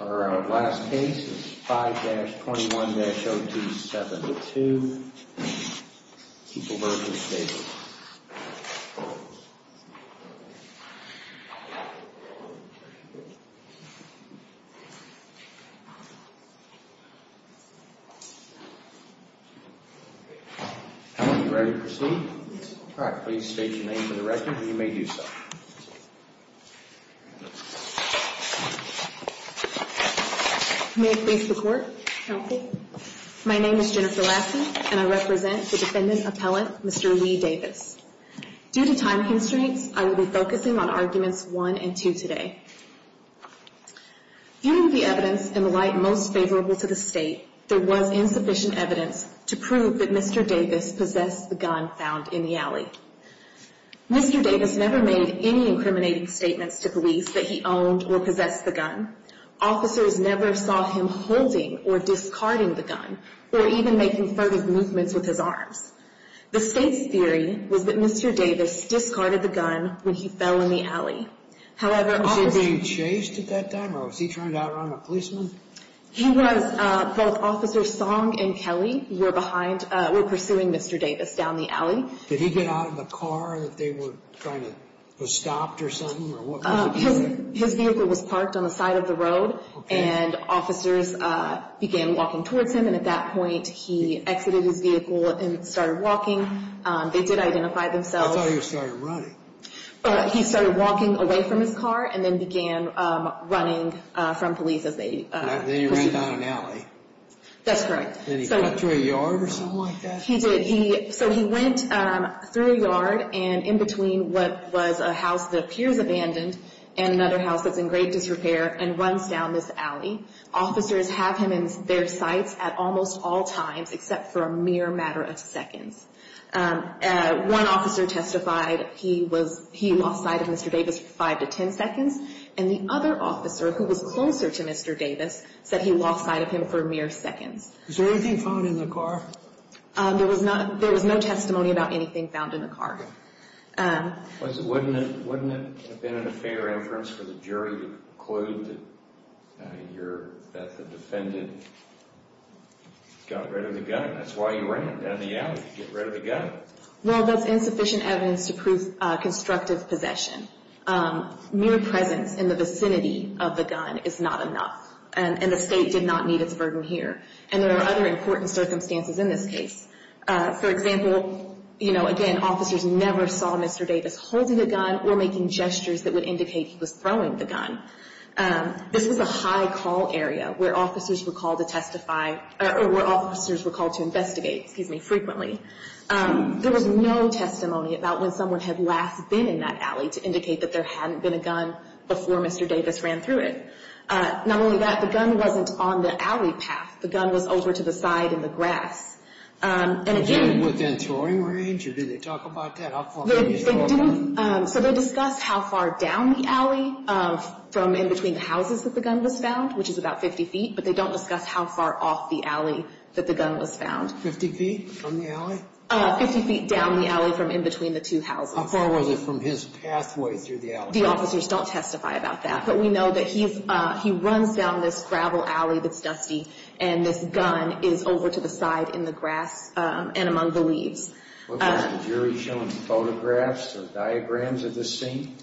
Our last case is 5-21-02-72. Keep alert and stay alert. Are you ready to proceed? All right, please state your name for the record and you may do so. May it please the court. Counsel. My name is Jennifer Lassie and I represent the defendant's appellant, Mr. Lee Davis. Due to time constraints, I will be focusing on arguments 1 and 2 today. Given the evidence in the light most favorable to the state, there was insufficient evidence to prove that Mr. Davis possessed the gun found in the alley. Mr. Davis never made any incriminating statements to police that he owned or possessed the gun. Officers never saw him holding or discarding the gun or even making furtive movements with his arms. The state's theory was that Mr. Davis discarded the gun when he fell in the alley. Was he being chased at that time or was he trying to outrun a policeman? He was. Both Officers Song and Kelly were pursuing Mr. Davis down the alley. Did he get out of the car that they were trying to stop or something? His vehicle was parked on the side of the road and officers began walking towards him and at that point he exited his vehicle and started walking. They did identify themselves. I thought he started running. He started walking away from his car and then began running from police as they pursued him. Then he ran down an alley. That's correct. Then he cut through a yard or something like that? He did. So he went through a yard and in between what was a house that appears abandoned and another house that's in great disrepair and runs down this alley. Officers have him in their sights at almost all times except for a mere matter of seconds. One officer testified he lost sight of Mr. Davis for 5 to 10 seconds and the other officer who was closer to Mr. Davis said he lost sight of him for mere seconds. Was there anything found in the car? There was no testimony about anything found in the car. Wouldn't it have been a fair inference for the jury to conclude that the defendant got rid of the gun? That's why you ran down the alley to get rid of the gun. Well, that's insufficient evidence to prove constructive possession. Mere presence in the vicinity of the gun is not enough and the state did not need its burden here. And there are other important circumstances in this case. For example, again, officers never saw Mr. Davis holding a gun or making gestures that would indicate he was throwing the gun. This was a high call area where officers were called to investigate frequently. There was no testimony about when someone had last been in that alley to indicate that there hadn't been a gun before Mr. Davis ran through it. Not only that, the gun wasn't on the alley path. The gun was over to the side in the grass. Was it within throwing range or did they talk about that? So they discuss how far down the alley from in between the houses that the gun was found, which is about 50 feet, but they don't discuss how far off the alley that the gun was found. 50 feet from the alley? 50 feet down the alley from in between the two houses. How far was it from his pathway through the alley? The officers don't testify about that, but we know that he runs down this gravel alley that's dusty and this gun is over to the side in the grass and among the leaves. Was the jury shown photographs or diagrams of the scene?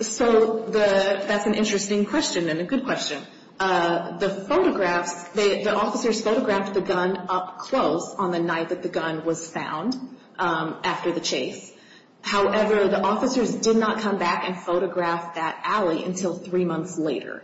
So that's an interesting question and a good question. The photographs, the officers photographed the gun up close on the night that the gun was found after the chase. However, the officers did not come back and photograph that alley until three months later.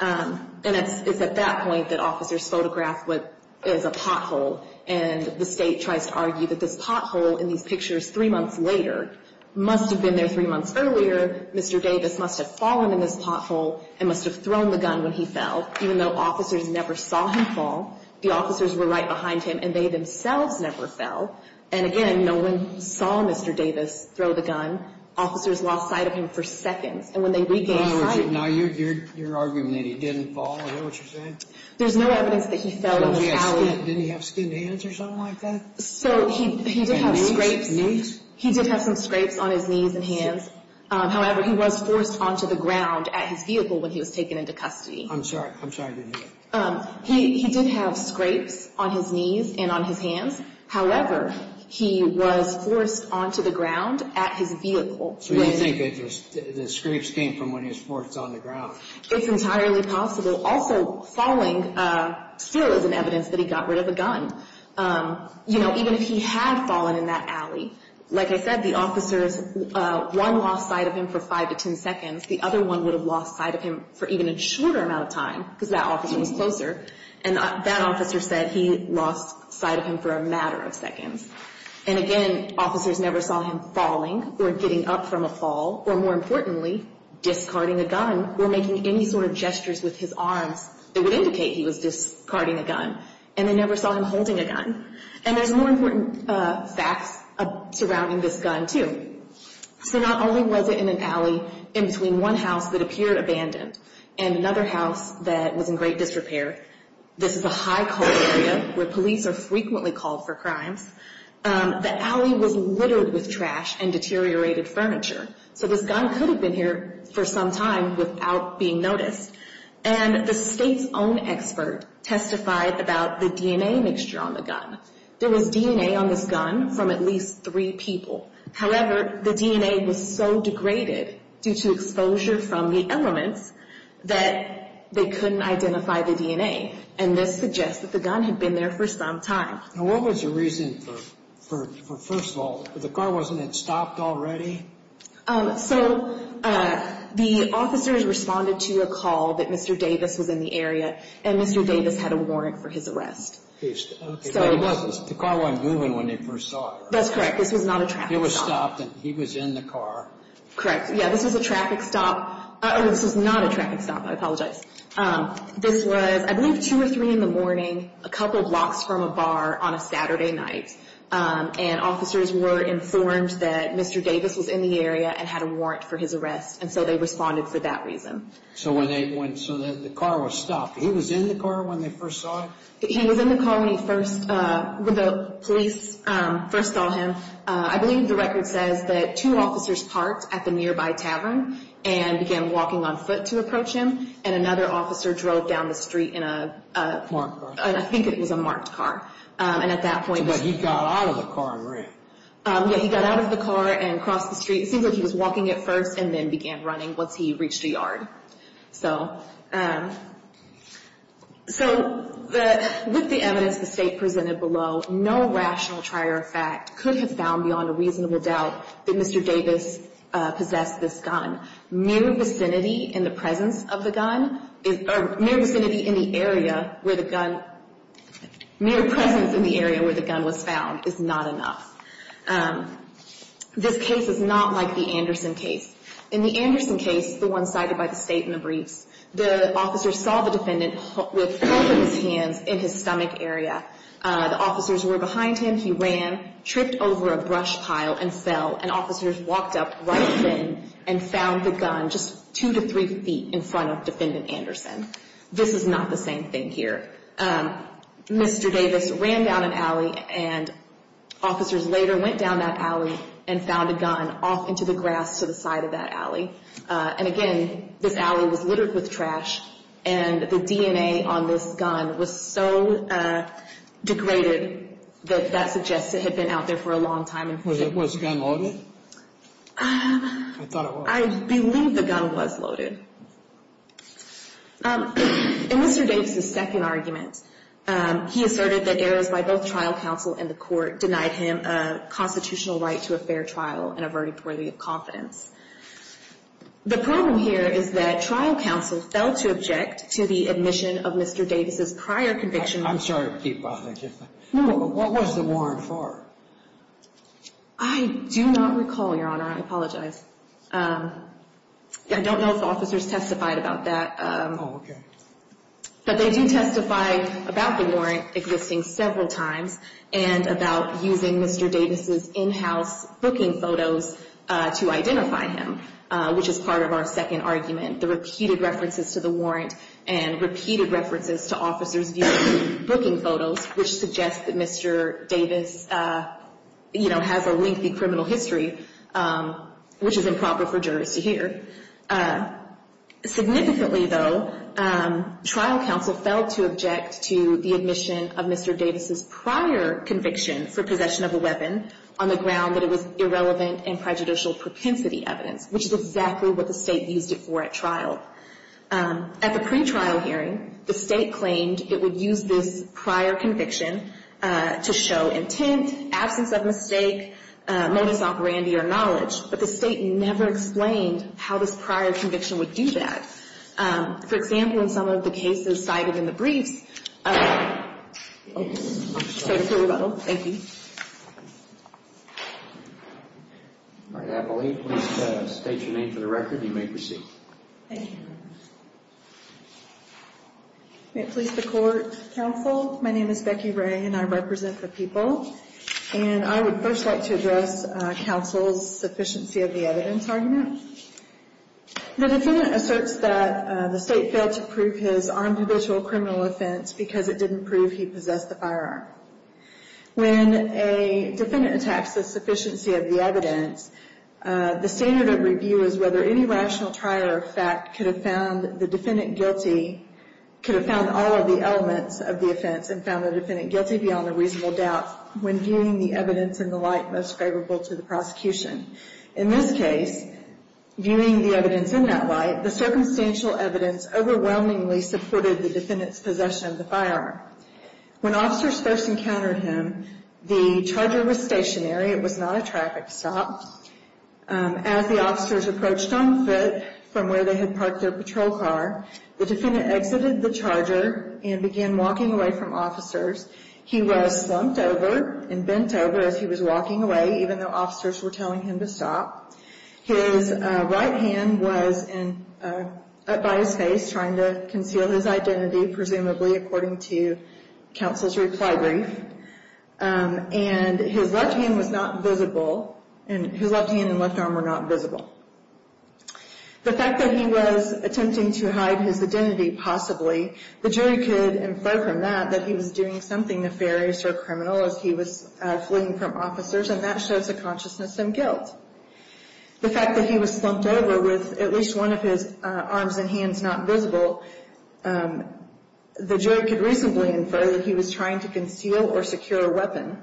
And it's at that point that officers photograph what is a pothole, and the state tries to argue that this pothole in these pictures three months later must have been there three months earlier. Mr. Davis must have fallen in this pothole and must have thrown the gun when he fell. Even though officers never saw him fall, the officers were right behind him and they themselves never fell. And again, no one saw Mr. Davis throw the gun. Officers lost sight of him for seconds. And when they regained sight... Now you're arguing that he didn't fall. Is that what you're saying? There's no evidence that he fell in the alley. Didn't he have skinned hands or something like that? So he did have scrapes. Knees? He did have some scrapes on his knees and hands. However, he was forced onto the ground at his vehicle when he was taken into custody. I'm sorry. I'm sorry I didn't hear that. He did have scrapes on his knees and on his hands. However, he was forced onto the ground at his vehicle. So you think the scrapes came from when he was forced onto the ground? It's entirely possible. Also, falling still isn't evidence that he got rid of a gun. You know, even if he had fallen in that alley, like I said, the officers, one lost sight of him for five to ten seconds. The other one would have lost sight of him for even a shorter amount of time because that officer was closer. And that officer said he lost sight of him for a matter of seconds. And, again, officers never saw him falling or getting up from a fall or, more importantly, discarding a gun or making any sort of gestures with his arms that would indicate he was discarding a gun. And they never saw him holding a gun. And there's more important facts surrounding this gun, too. So not only was it in an alley in between one house that appeared abandoned and another house that was in great disrepair. This is a high cold area where police are frequently called for crimes. The alley was littered with trash and deteriorated furniture. So this gun could have been here for some time without being noticed. And the state's own expert testified about the DNA mixture on the gun. There was DNA on this gun from at least three people. However, the DNA was so degraded due to exposure from the elements that they couldn't identify the DNA. And this suggests that the gun had been there for some time. Now, what was the reason for, first of all, the car wasn't stopped already? So the officers responded to a call that Mr. Davis was in the area, and Mr. Davis had a warrant for his arrest. The car wasn't moving when they first saw it. That's correct. This was not a traffic stop. It was stopped, and he was in the car. Correct. Yeah, this was a traffic stop. This was not a traffic stop. I apologize. This was, I believe, 2 or 3 in the morning, a couple blocks from a bar on a Saturday night. And officers were informed that Mr. Davis was in the area and had a warrant for his arrest, and so they responded for that reason. So the car was stopped. He was in the car when they first saw it? He was in the car when the police first saw him. I believe the record says that two officers parked at the nearby tavern and began walking on foot to approach him, and another officer drove down the street in a marked car. I think it was a marked car. But he got out of the car and ran. Yeah, he got out of the car and crossed the street. It seems like he was walking at first and then began running once he reached a yard. So with the evidence the State presented below, no rational trier of fact could have found beyond a reasonable doubt that Mr. Davis possessed this gun. Mere vicinity in the presence of the gun, or mere vicinity in the area where the gun, mere presence in the area where the gun was found is not enough. This case is not like the Anderson case. In the Anderson case, the one cited by the State in the briefs, the officer saw the defendant with both of his hands in his stomach area. The officers were behind him. He ran, tripped over a brush pile, and fell, and officers walked up right then and found the gun just two to three feet in front of Defendant Anderson. This is not the same thing here. Mr. Davis ran down an alley, and officers later went down that alley and found a gun off into the grass to the side of that alley. And again, this alley was littered with trash, and the DNA on this gun was so degraded that that suggests it had been out there for a long time. Was the gun loaded? I believe the gun was loaded. In Mr. Davis's second argument, he asserted that errors by both trial counsel and the court denied him a constitutional right to a fair trial and a verdict worthy of confidence. The problem here is that trial counsel fell to object to the admission of Mr. Davis's prior conviction. I'm sorry to keep bothering you. What was the warrant for? I do not recall, Your Honor. I apologize. I don't know if officers testified about that. Oh, okay. But they do testify about the warrant existing several times and about using Mr. Davis's in-house booking photos to identify him, which is part of our second argument, the repeated references to the warrant and repeated references to officers' viewing booking photos, which suggests that Mr. Davis has a lengthy criminal history, which is improper for jurors to hear. Significantly, though, trial counsel fell to object to the admission of Mr. Davis's prior conviction for possession of a weapon on the ground that it was irrelevant and prejudicial propensity evidence, which is exactly what the State used it for at trial. At the pretrial hearing, the State claimed it would use this prior conviction to show intent, absence of mistake, modus operandi, or knowledge, but the State never explained how this prior conviction would do that. For example, in some of the cases cited in the briefs, I'm sorry for the rumble. Thank you. All right. Appellee, please state your name for the record, and you may proceed. Thank you. Police, the Court, Counsel, my name is Becky Ray, and I represent the people. And I would first like to address counsel's sufficiency of the evidence argument. The defendant asserts that the State failed to prove his armed habitual criminal offense because it didn't prove he possessed the firearm. When a defendant attacks the sufficiency of the evidence, the standard of review is whether any rational trial or fact could have found the defendant guilty, could have found all of the elements of the offense, and found the defendant guilty beyond a reasonable doubt when viewing the evidence in the light most favorable to the prosecution. In this case, viewing the evidence in that light, the circumstantial evidence overwhelmingly supported the defendant's possession of the firearm. When officers first encountered him, the charger was stationary. It was not a traffic stop. As the officers approached on foot from where they had parked their patrol car, the defendant exited the charger and began walking away from officers. He was slumped over and bent over as he was walking away, even though officers were telling him to stop. His right hand was up by his face, trying to conceal his identity, presumably according to counsel's reply brief. And his left hand and left arm were not visible. The fact that he was attempting to hide his identity, possibly, the jury could infer from that that he was doing something nefarious or criminal as he was fleeing from officers, and that shows a consciousness of guilt. The fact that he was slumped over with at least one of his arms and hands not visible, the jury could reasonably infer that he was trying to conceal or secure a weapon.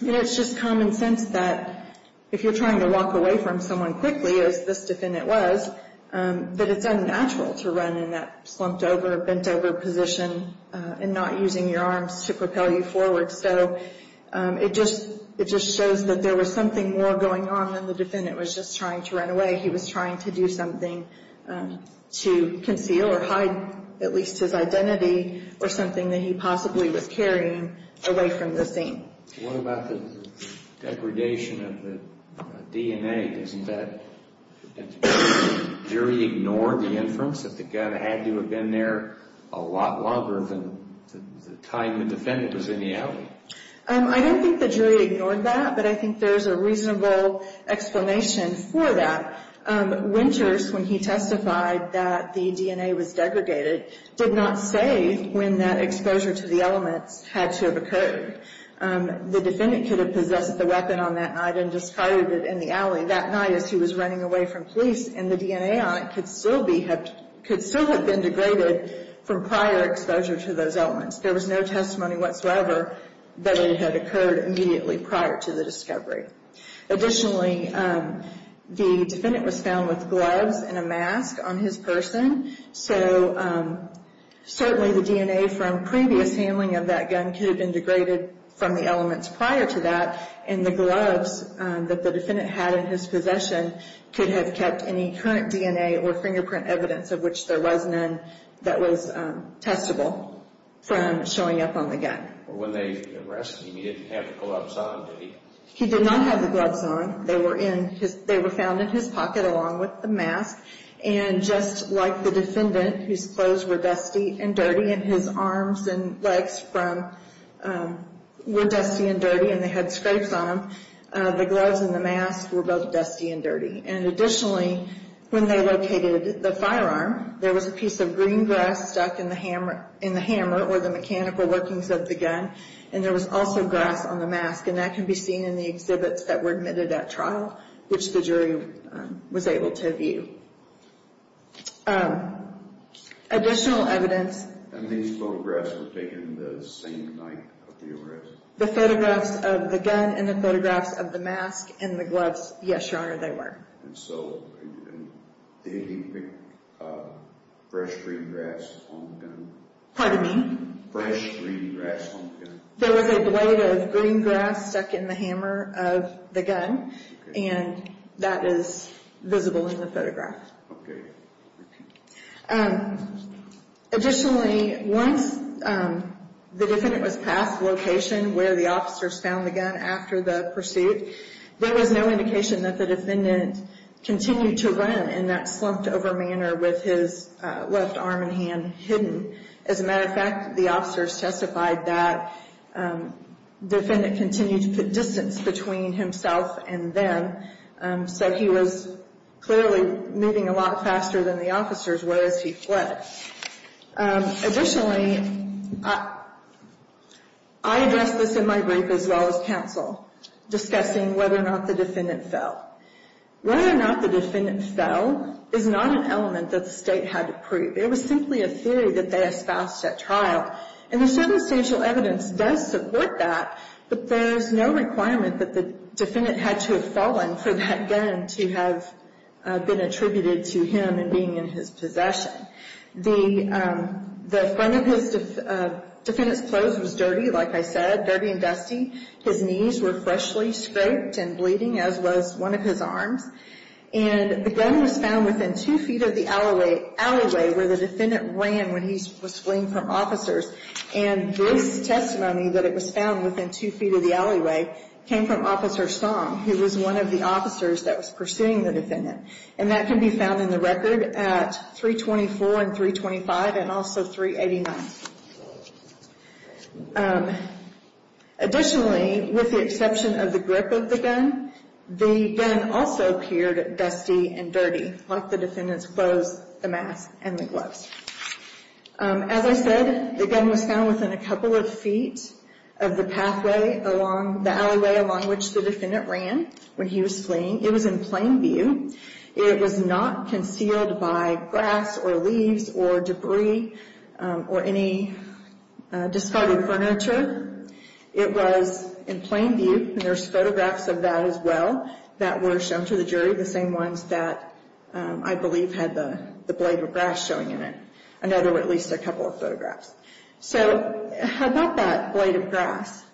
It's just common sense that if you're trying to walk away from someone quickly, as this defendant was, that it's unnatural to run in that slumped over, bent over position and not using your arms to propel you forward. So it just shows that there was something more going on than the defendant was just trying to run away. He was trying to do something to conceal or hide at least his identity or something that he possibly was carrying away from the scene. What about the degradation of the DNA? Doesn't that, does the jury ignore the inference that the gun had to have been there a lot longer than the time the defendant was in the alley? I don't think the jury ignored that, but I think there's a reasonable explanation for that. Winters, when he testified that the DNA was degraded, did not say when that exposure to the elements had to have occurred. The defendant could have possessed the weapon on that night and discarded it in the alley that night as he was running away from police, and the DNA on it could still have been degraded from prior exposure to those elements. There was no testimony whatsoever that it had occurred immediately prior to the discovery. Additionally, the defendant was found with gloves and a mask on his person, so certainly the DNA from previous handling of that gun could have been degraded from the elements prior to that, and the gloves that the defendant had in his possession could have kept any current DNA or fingerprint evidence, of which there was none, that was testable from showing up on the gun. When they arrested him, he didn't have the gloves on, did he? He did not have the gloves on. They were found in his pocket along with the mask, and just like the defendant, whose clothes were dusty and dirty and his arms and legs were dusty and dirty and they had scrapes on them, the gloves and the mask were both dusty and dirty. Additionally, when they located the firearm, there was a piece of green grass stuck in the hammer or the mechanical workings of the gun, and there was also grass on the mask, and that can be seen in the exhibits that were admitted at trial, which the jury was able to view. Additional evidence... And these photographs were taken the same night of the arrest? The photographs of the gun and the photographs of the mask and the gloves, yes, Your Honor, they were. And so they didn't pick fresh green grass on the gun? Pardon me? Fresh green grass on the gun? There was a blade of green grass stuck in the hammer of the gun, and that is visible in the photograph. Okay. Additionally, once the defendant was past the location where the officers found the gun after the pursuit, there was no indication that the defendant continued to run in that slumped-over manner with his left arm and hand hidden. As a matter of fact, the officers testified that the defendant continued to put distance between himself and them, so he was clearly moving a lot faster than the officers were as he fled. Additionally, I addressed this in my brief as well as counsel, discussing whether or not the defendant fell. Whether or not the defendant fell is not an element that the State had to prove. It was simply a theory that they espoused at trial, and the circumstantial evidence does support that, but there is no requirement that the defendant had to have fallen for that gun to have been attributed to him and being in his possession. The front of the defendant's clothes was dirty, like I said, dirty and dusty. His knees were freshly scraped and bleeding, as was one of his arms. And the gun was found within two feet of the alleyway where the defendant ran when he was fleeing from officers, and this testimony that it was found within two feet of the alleyway came from Officer Song, who was one of the officers that was pursuing the defendant. And that can be found in the record at 324 and 325 and also 389. Additionally, with the exception of the grip of the gun, the gun also appeared dusty and dirty, like the defendant's clothes, the mask, and the gloves. As I said, the gun was found within a couple of feet of the pathway along the alleyway along which the defendant ran when he was fleeing. It was in plain view. It was not concealed by grass or leaves or debris or any discarded furniture. It was in plain view, and there's photographs of that as well that were shown to the jury, the same ones that I believe had the blade of grass showing in it. I know there were at least a couple of photographs. So how about that blade of grass?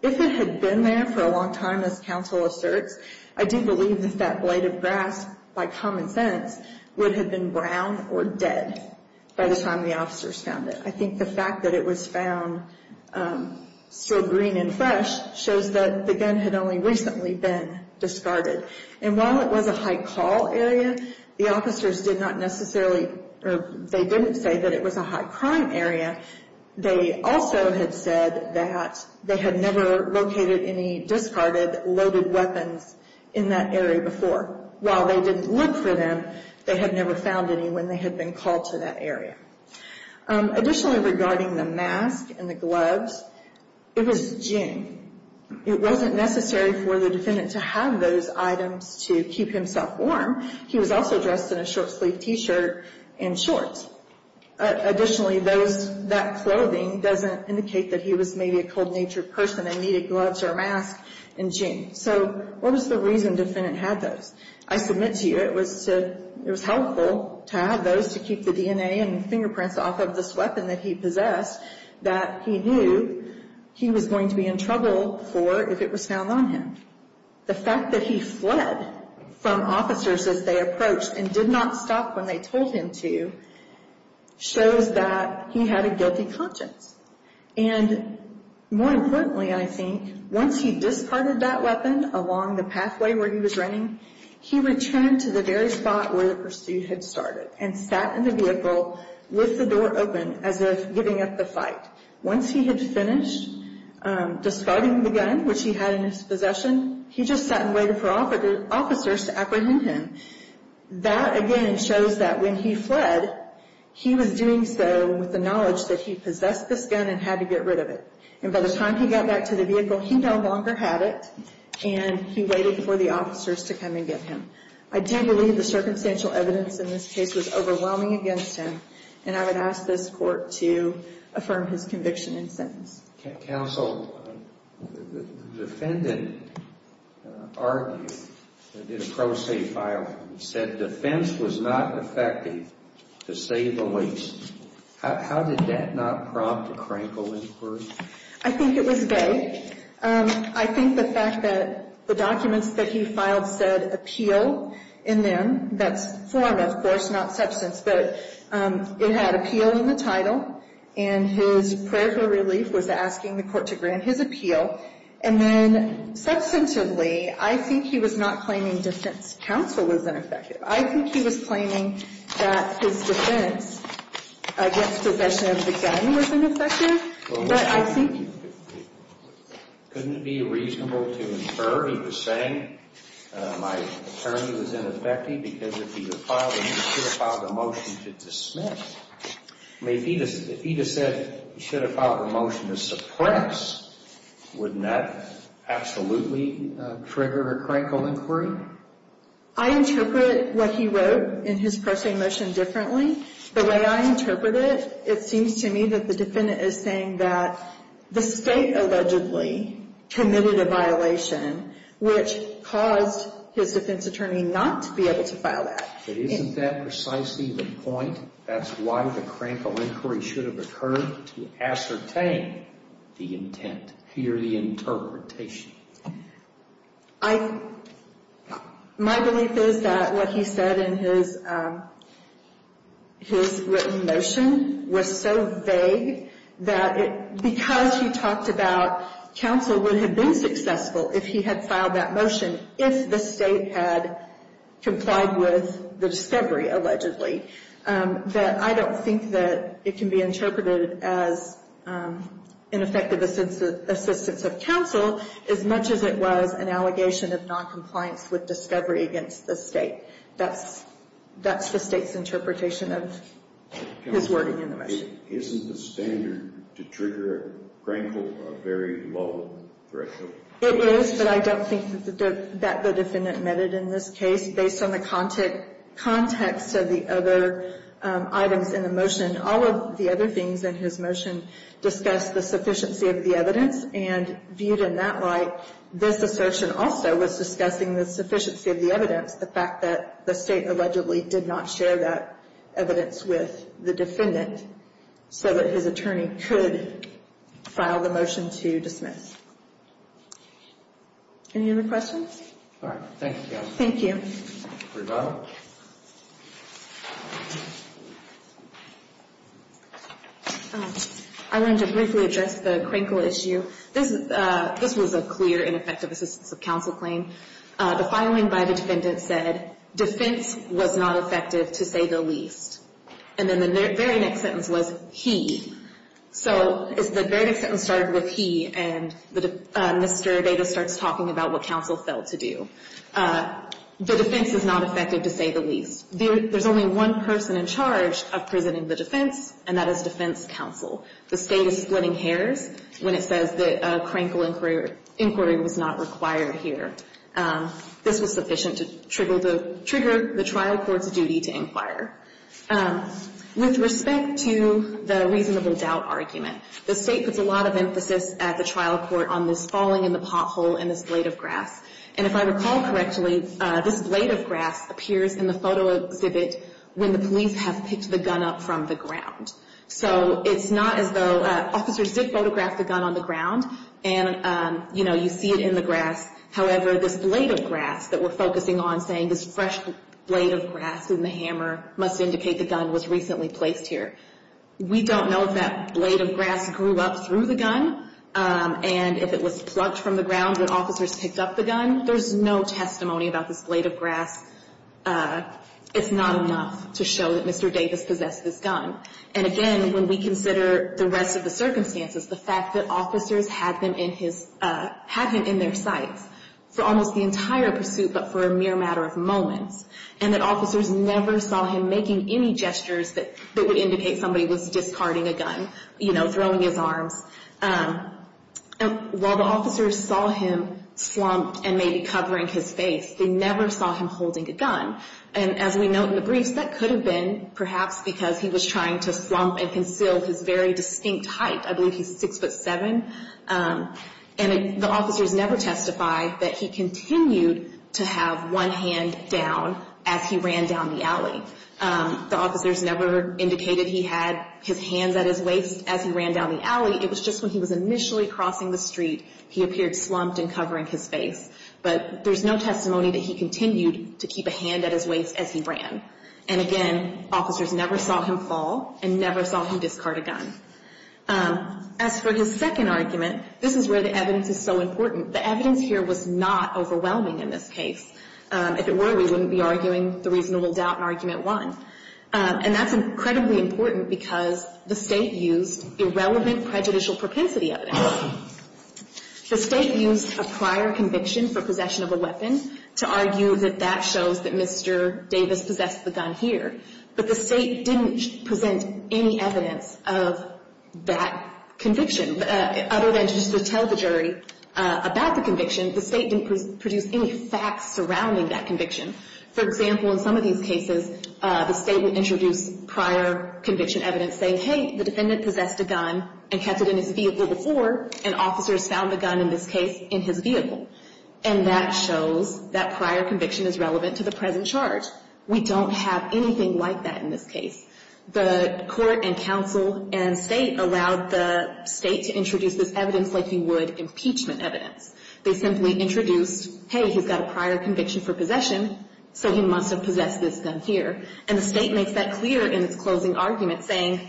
If it had been there for a long time, as counsel asserts, I do believe that that blade of grass, by common sense, would have been brown or dead by the time the officers found it. I think the fact that it was found still green and fresh shows that the gun had only recently been discarded. And while it was a high-call area, the officers did not necessarily, or they didn't say that it was a high-crime area. They also had said that they had never located any discarded loaded weapons in that area before. While they didn't look for them, they had never found any when they had been called to that area. Additionally, regarding the mask and the gloves, it was June. It wasn't necessary for the defendant to have those items to keep himself warm. He was also dressed in a short-sleeved T-shirt and shorts. Additionally, that clothing doesn't indicate that he was maybe a cold-natured person and needed gloves or a mask in June. So what was the reason the defendant had those? I submit to you it was helpful to have those to keep the DNA and fingerprints off of this weapon that he possessed, that he knew he was going to be in trouble for if it was found on him. The fact that he fled from officers as they approached and did not stop when they told him to shows that he had a guilty conscience. And more importantly, I think, once he discarded that weapon along the pathway where he was running, he returned to the very spot where the pursuit had started and sat in the vehicle with the door open as if giving up the fight. Once he had finished discarding the gun, which he had in his possession, he just sat and waited for officers to apprehend him. That, again, shows that when he fled, he was doing so with the knowledge that he possessed this gun and had to get rid of it. And by the time he got back to the vehicle, he no longer had it, and he waited for the officers to come and get him. I do believe the circumstantial evidence in this case was overwhelming against him, and I would ask this court to affirm his conviction and sentence. Counsel, the defendant argued, did a pro se file, and said defense was not effective to save the waste. How did that not prompt a crankle in the court? I think it was vague. I think the fact that the documents that he filed said appeal in them. That's form, of course, not substance. But it had appeal in the title, and his prayer for relief was asking the court to grant his appeal. And then substantively, I think he was not claiming defense counsel was ineffective. I think he was claiming that his defense against possession of the gun was ineffective, but I think. Couldn't it be reasonable to infer he was saying my attorney was ineffective because if he had filed, he should have filed a motion to dismiss. I mean, if he had said he should have filed a motion to suppress, wouldn't that absolutely trigger a crankle inquiry? I interpret what he wrote in his pro se motion differently. The way I interpret it, it seems to me that the defendant is saying that the state allegedly committed a violation, which caused his defense attorney not to be able to file that. But isn't that precisely the point? That's why the crankle inquiry should have occurred, to ascertain the intent, hear the interpretation. My belief is that what he said in his written motion was so vague that because he talked about counsel would have been successful if he had filed that motion, if the state had complied with the discovery allegedly, that I don't think that it can be interpreted as ineffective assistance of counsel, as much as it was an allegation of noncompliance with discovery against the state. That's the state's interpretation of his wording in the motion. Isn't the standard to trigger a crankle a very low threshold? It is, but I don't think that the defendant meant it in this case. Based on the context of the other items in the motion, all of the other things in his motion discussed the sufficiency of the evidence, and viewed in that light, this assertion also was discussing the sufficiency of the evidence, the fact that the state allegedly did not share that evidence with the defendant, so that his attorney could file the motion to dismiss. Any other questions? All right. Thank you. Thank you. Rebecca? I wanted to briefly address the crankle issue. This was a clear ineffective assistance of counsel claim. The filing by the defendant said, defense was not effective, to say the least. And then the very next sentence was, he. So the very next sentence started with he, and Mr. Davis starts talking about what counsel failed to do. The defense is not effective, to say the least. There's only one person in charge of presenting the defense, and that is defense counsel. The state is splitting hairs when it says that crankle inquiry was not required here. This was sufficient to trigger the trial court's duty to inquire. With respect to the reasonable doubt argument, the state puts a lot of emphasis at the trial court on this falling in the pothole and this blade of grass. And if I recall correctly, this blade of grass appears in the photo exhibit when the police have picked the gun up from the ground. So it's not as though officers did photograph the gun on the ground, and, you know, you see it in the grass. However, this blade of grass that we're focusing on saying this fresh blade of grass in the hammer must indicate the gun was recently placed here. We don't know if that blade of grass grew up through the gun, and if it was plucked from the ground when officers picked up the gun. There's no testimony about this blade of grass. It's not enough to show that Mr. Davis possessed this gun. And again, when we consider the rest of the circumstances, the fact that officers had him in their sights for almost the entire pursuit but for a mere matter of moments, and that officers never saw him making any gestures that would indicate somebody was discarding a gun, you know, throwing his arms. While the officers saw him slumped and maybe covering his face, they never saw him holding a gun. And as we note in the briefs, that could have been perhaps because he was trying to slump and conceal his very distinct height. I believe he's 6'7", and the officers never testified that he continued to have one hand down as he ran down the alley. The officers never indicated he had his hands at his waist as he ran down the alley. It was just when he was initially crossing the street, he appeared slumped and covering his face. But there's no testimony that he continued to keep a hand at his waist as he ran. And again, officers never saw him fall and never saw him discard a gun. As for his second argument, this is where the evidence is so important. The evidence here was not overwhelming in this case. If it were, we wouldn't be arguing the reasonable doubt in Argument 1. And that's incredibly important because the State used irrelevant prejudicial propensity evidence. The State used a prior conviction for possession of a weapon to argue that that shows that Mr. Davis possessed the gun here. But the State didn't present any evidence of that conviction. Other than just to tell the jury about the conviction, the State didn't produce any facts surrounding that conviction. For example, in some of these cases, the State would introduce prior conviction evidence saying, hey, the defendant possessed a gun and kept it in his vehicle before, and officers found the gun in this case in his vehicle. And that shows that prior conviction is relevant to the present charge. We don't have anything like that in this case. The court and counsel and State allowed the State to introduce this evidence like you would impeachment evidence. They simply introduced, hey, he's got a prior conviction for possession, so he must have possessed this gun here. And the State makes that clear in its closing argument, saying,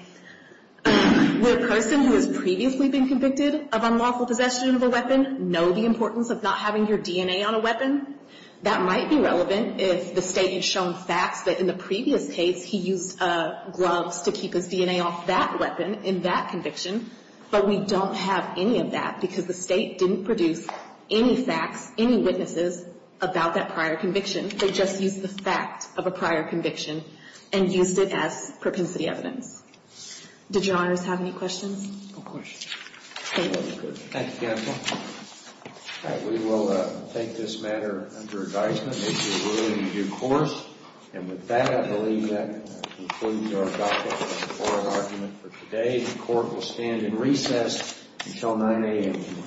would a person who has previously been convicted of unlawful possession of a weapon know the importance of not having your DNA on a weapon? That might be relevant if the State had shown facts that in the previous case he used gloves to keep his DNA off that weapon in that conviction. But we don't have any of that because the State didn't produce any facts, any witnesses about that prior conviction. They just used the fact of a prior conviction and used it as propensity evidence. Did Your Honors have any questions? Of course. Thank you. Thank you, counsel. All right. We will take this matter under advisement if you're willing to do courts. And with that, I believe that concludes our topic for today. The court will stand in recess until 9 a.m.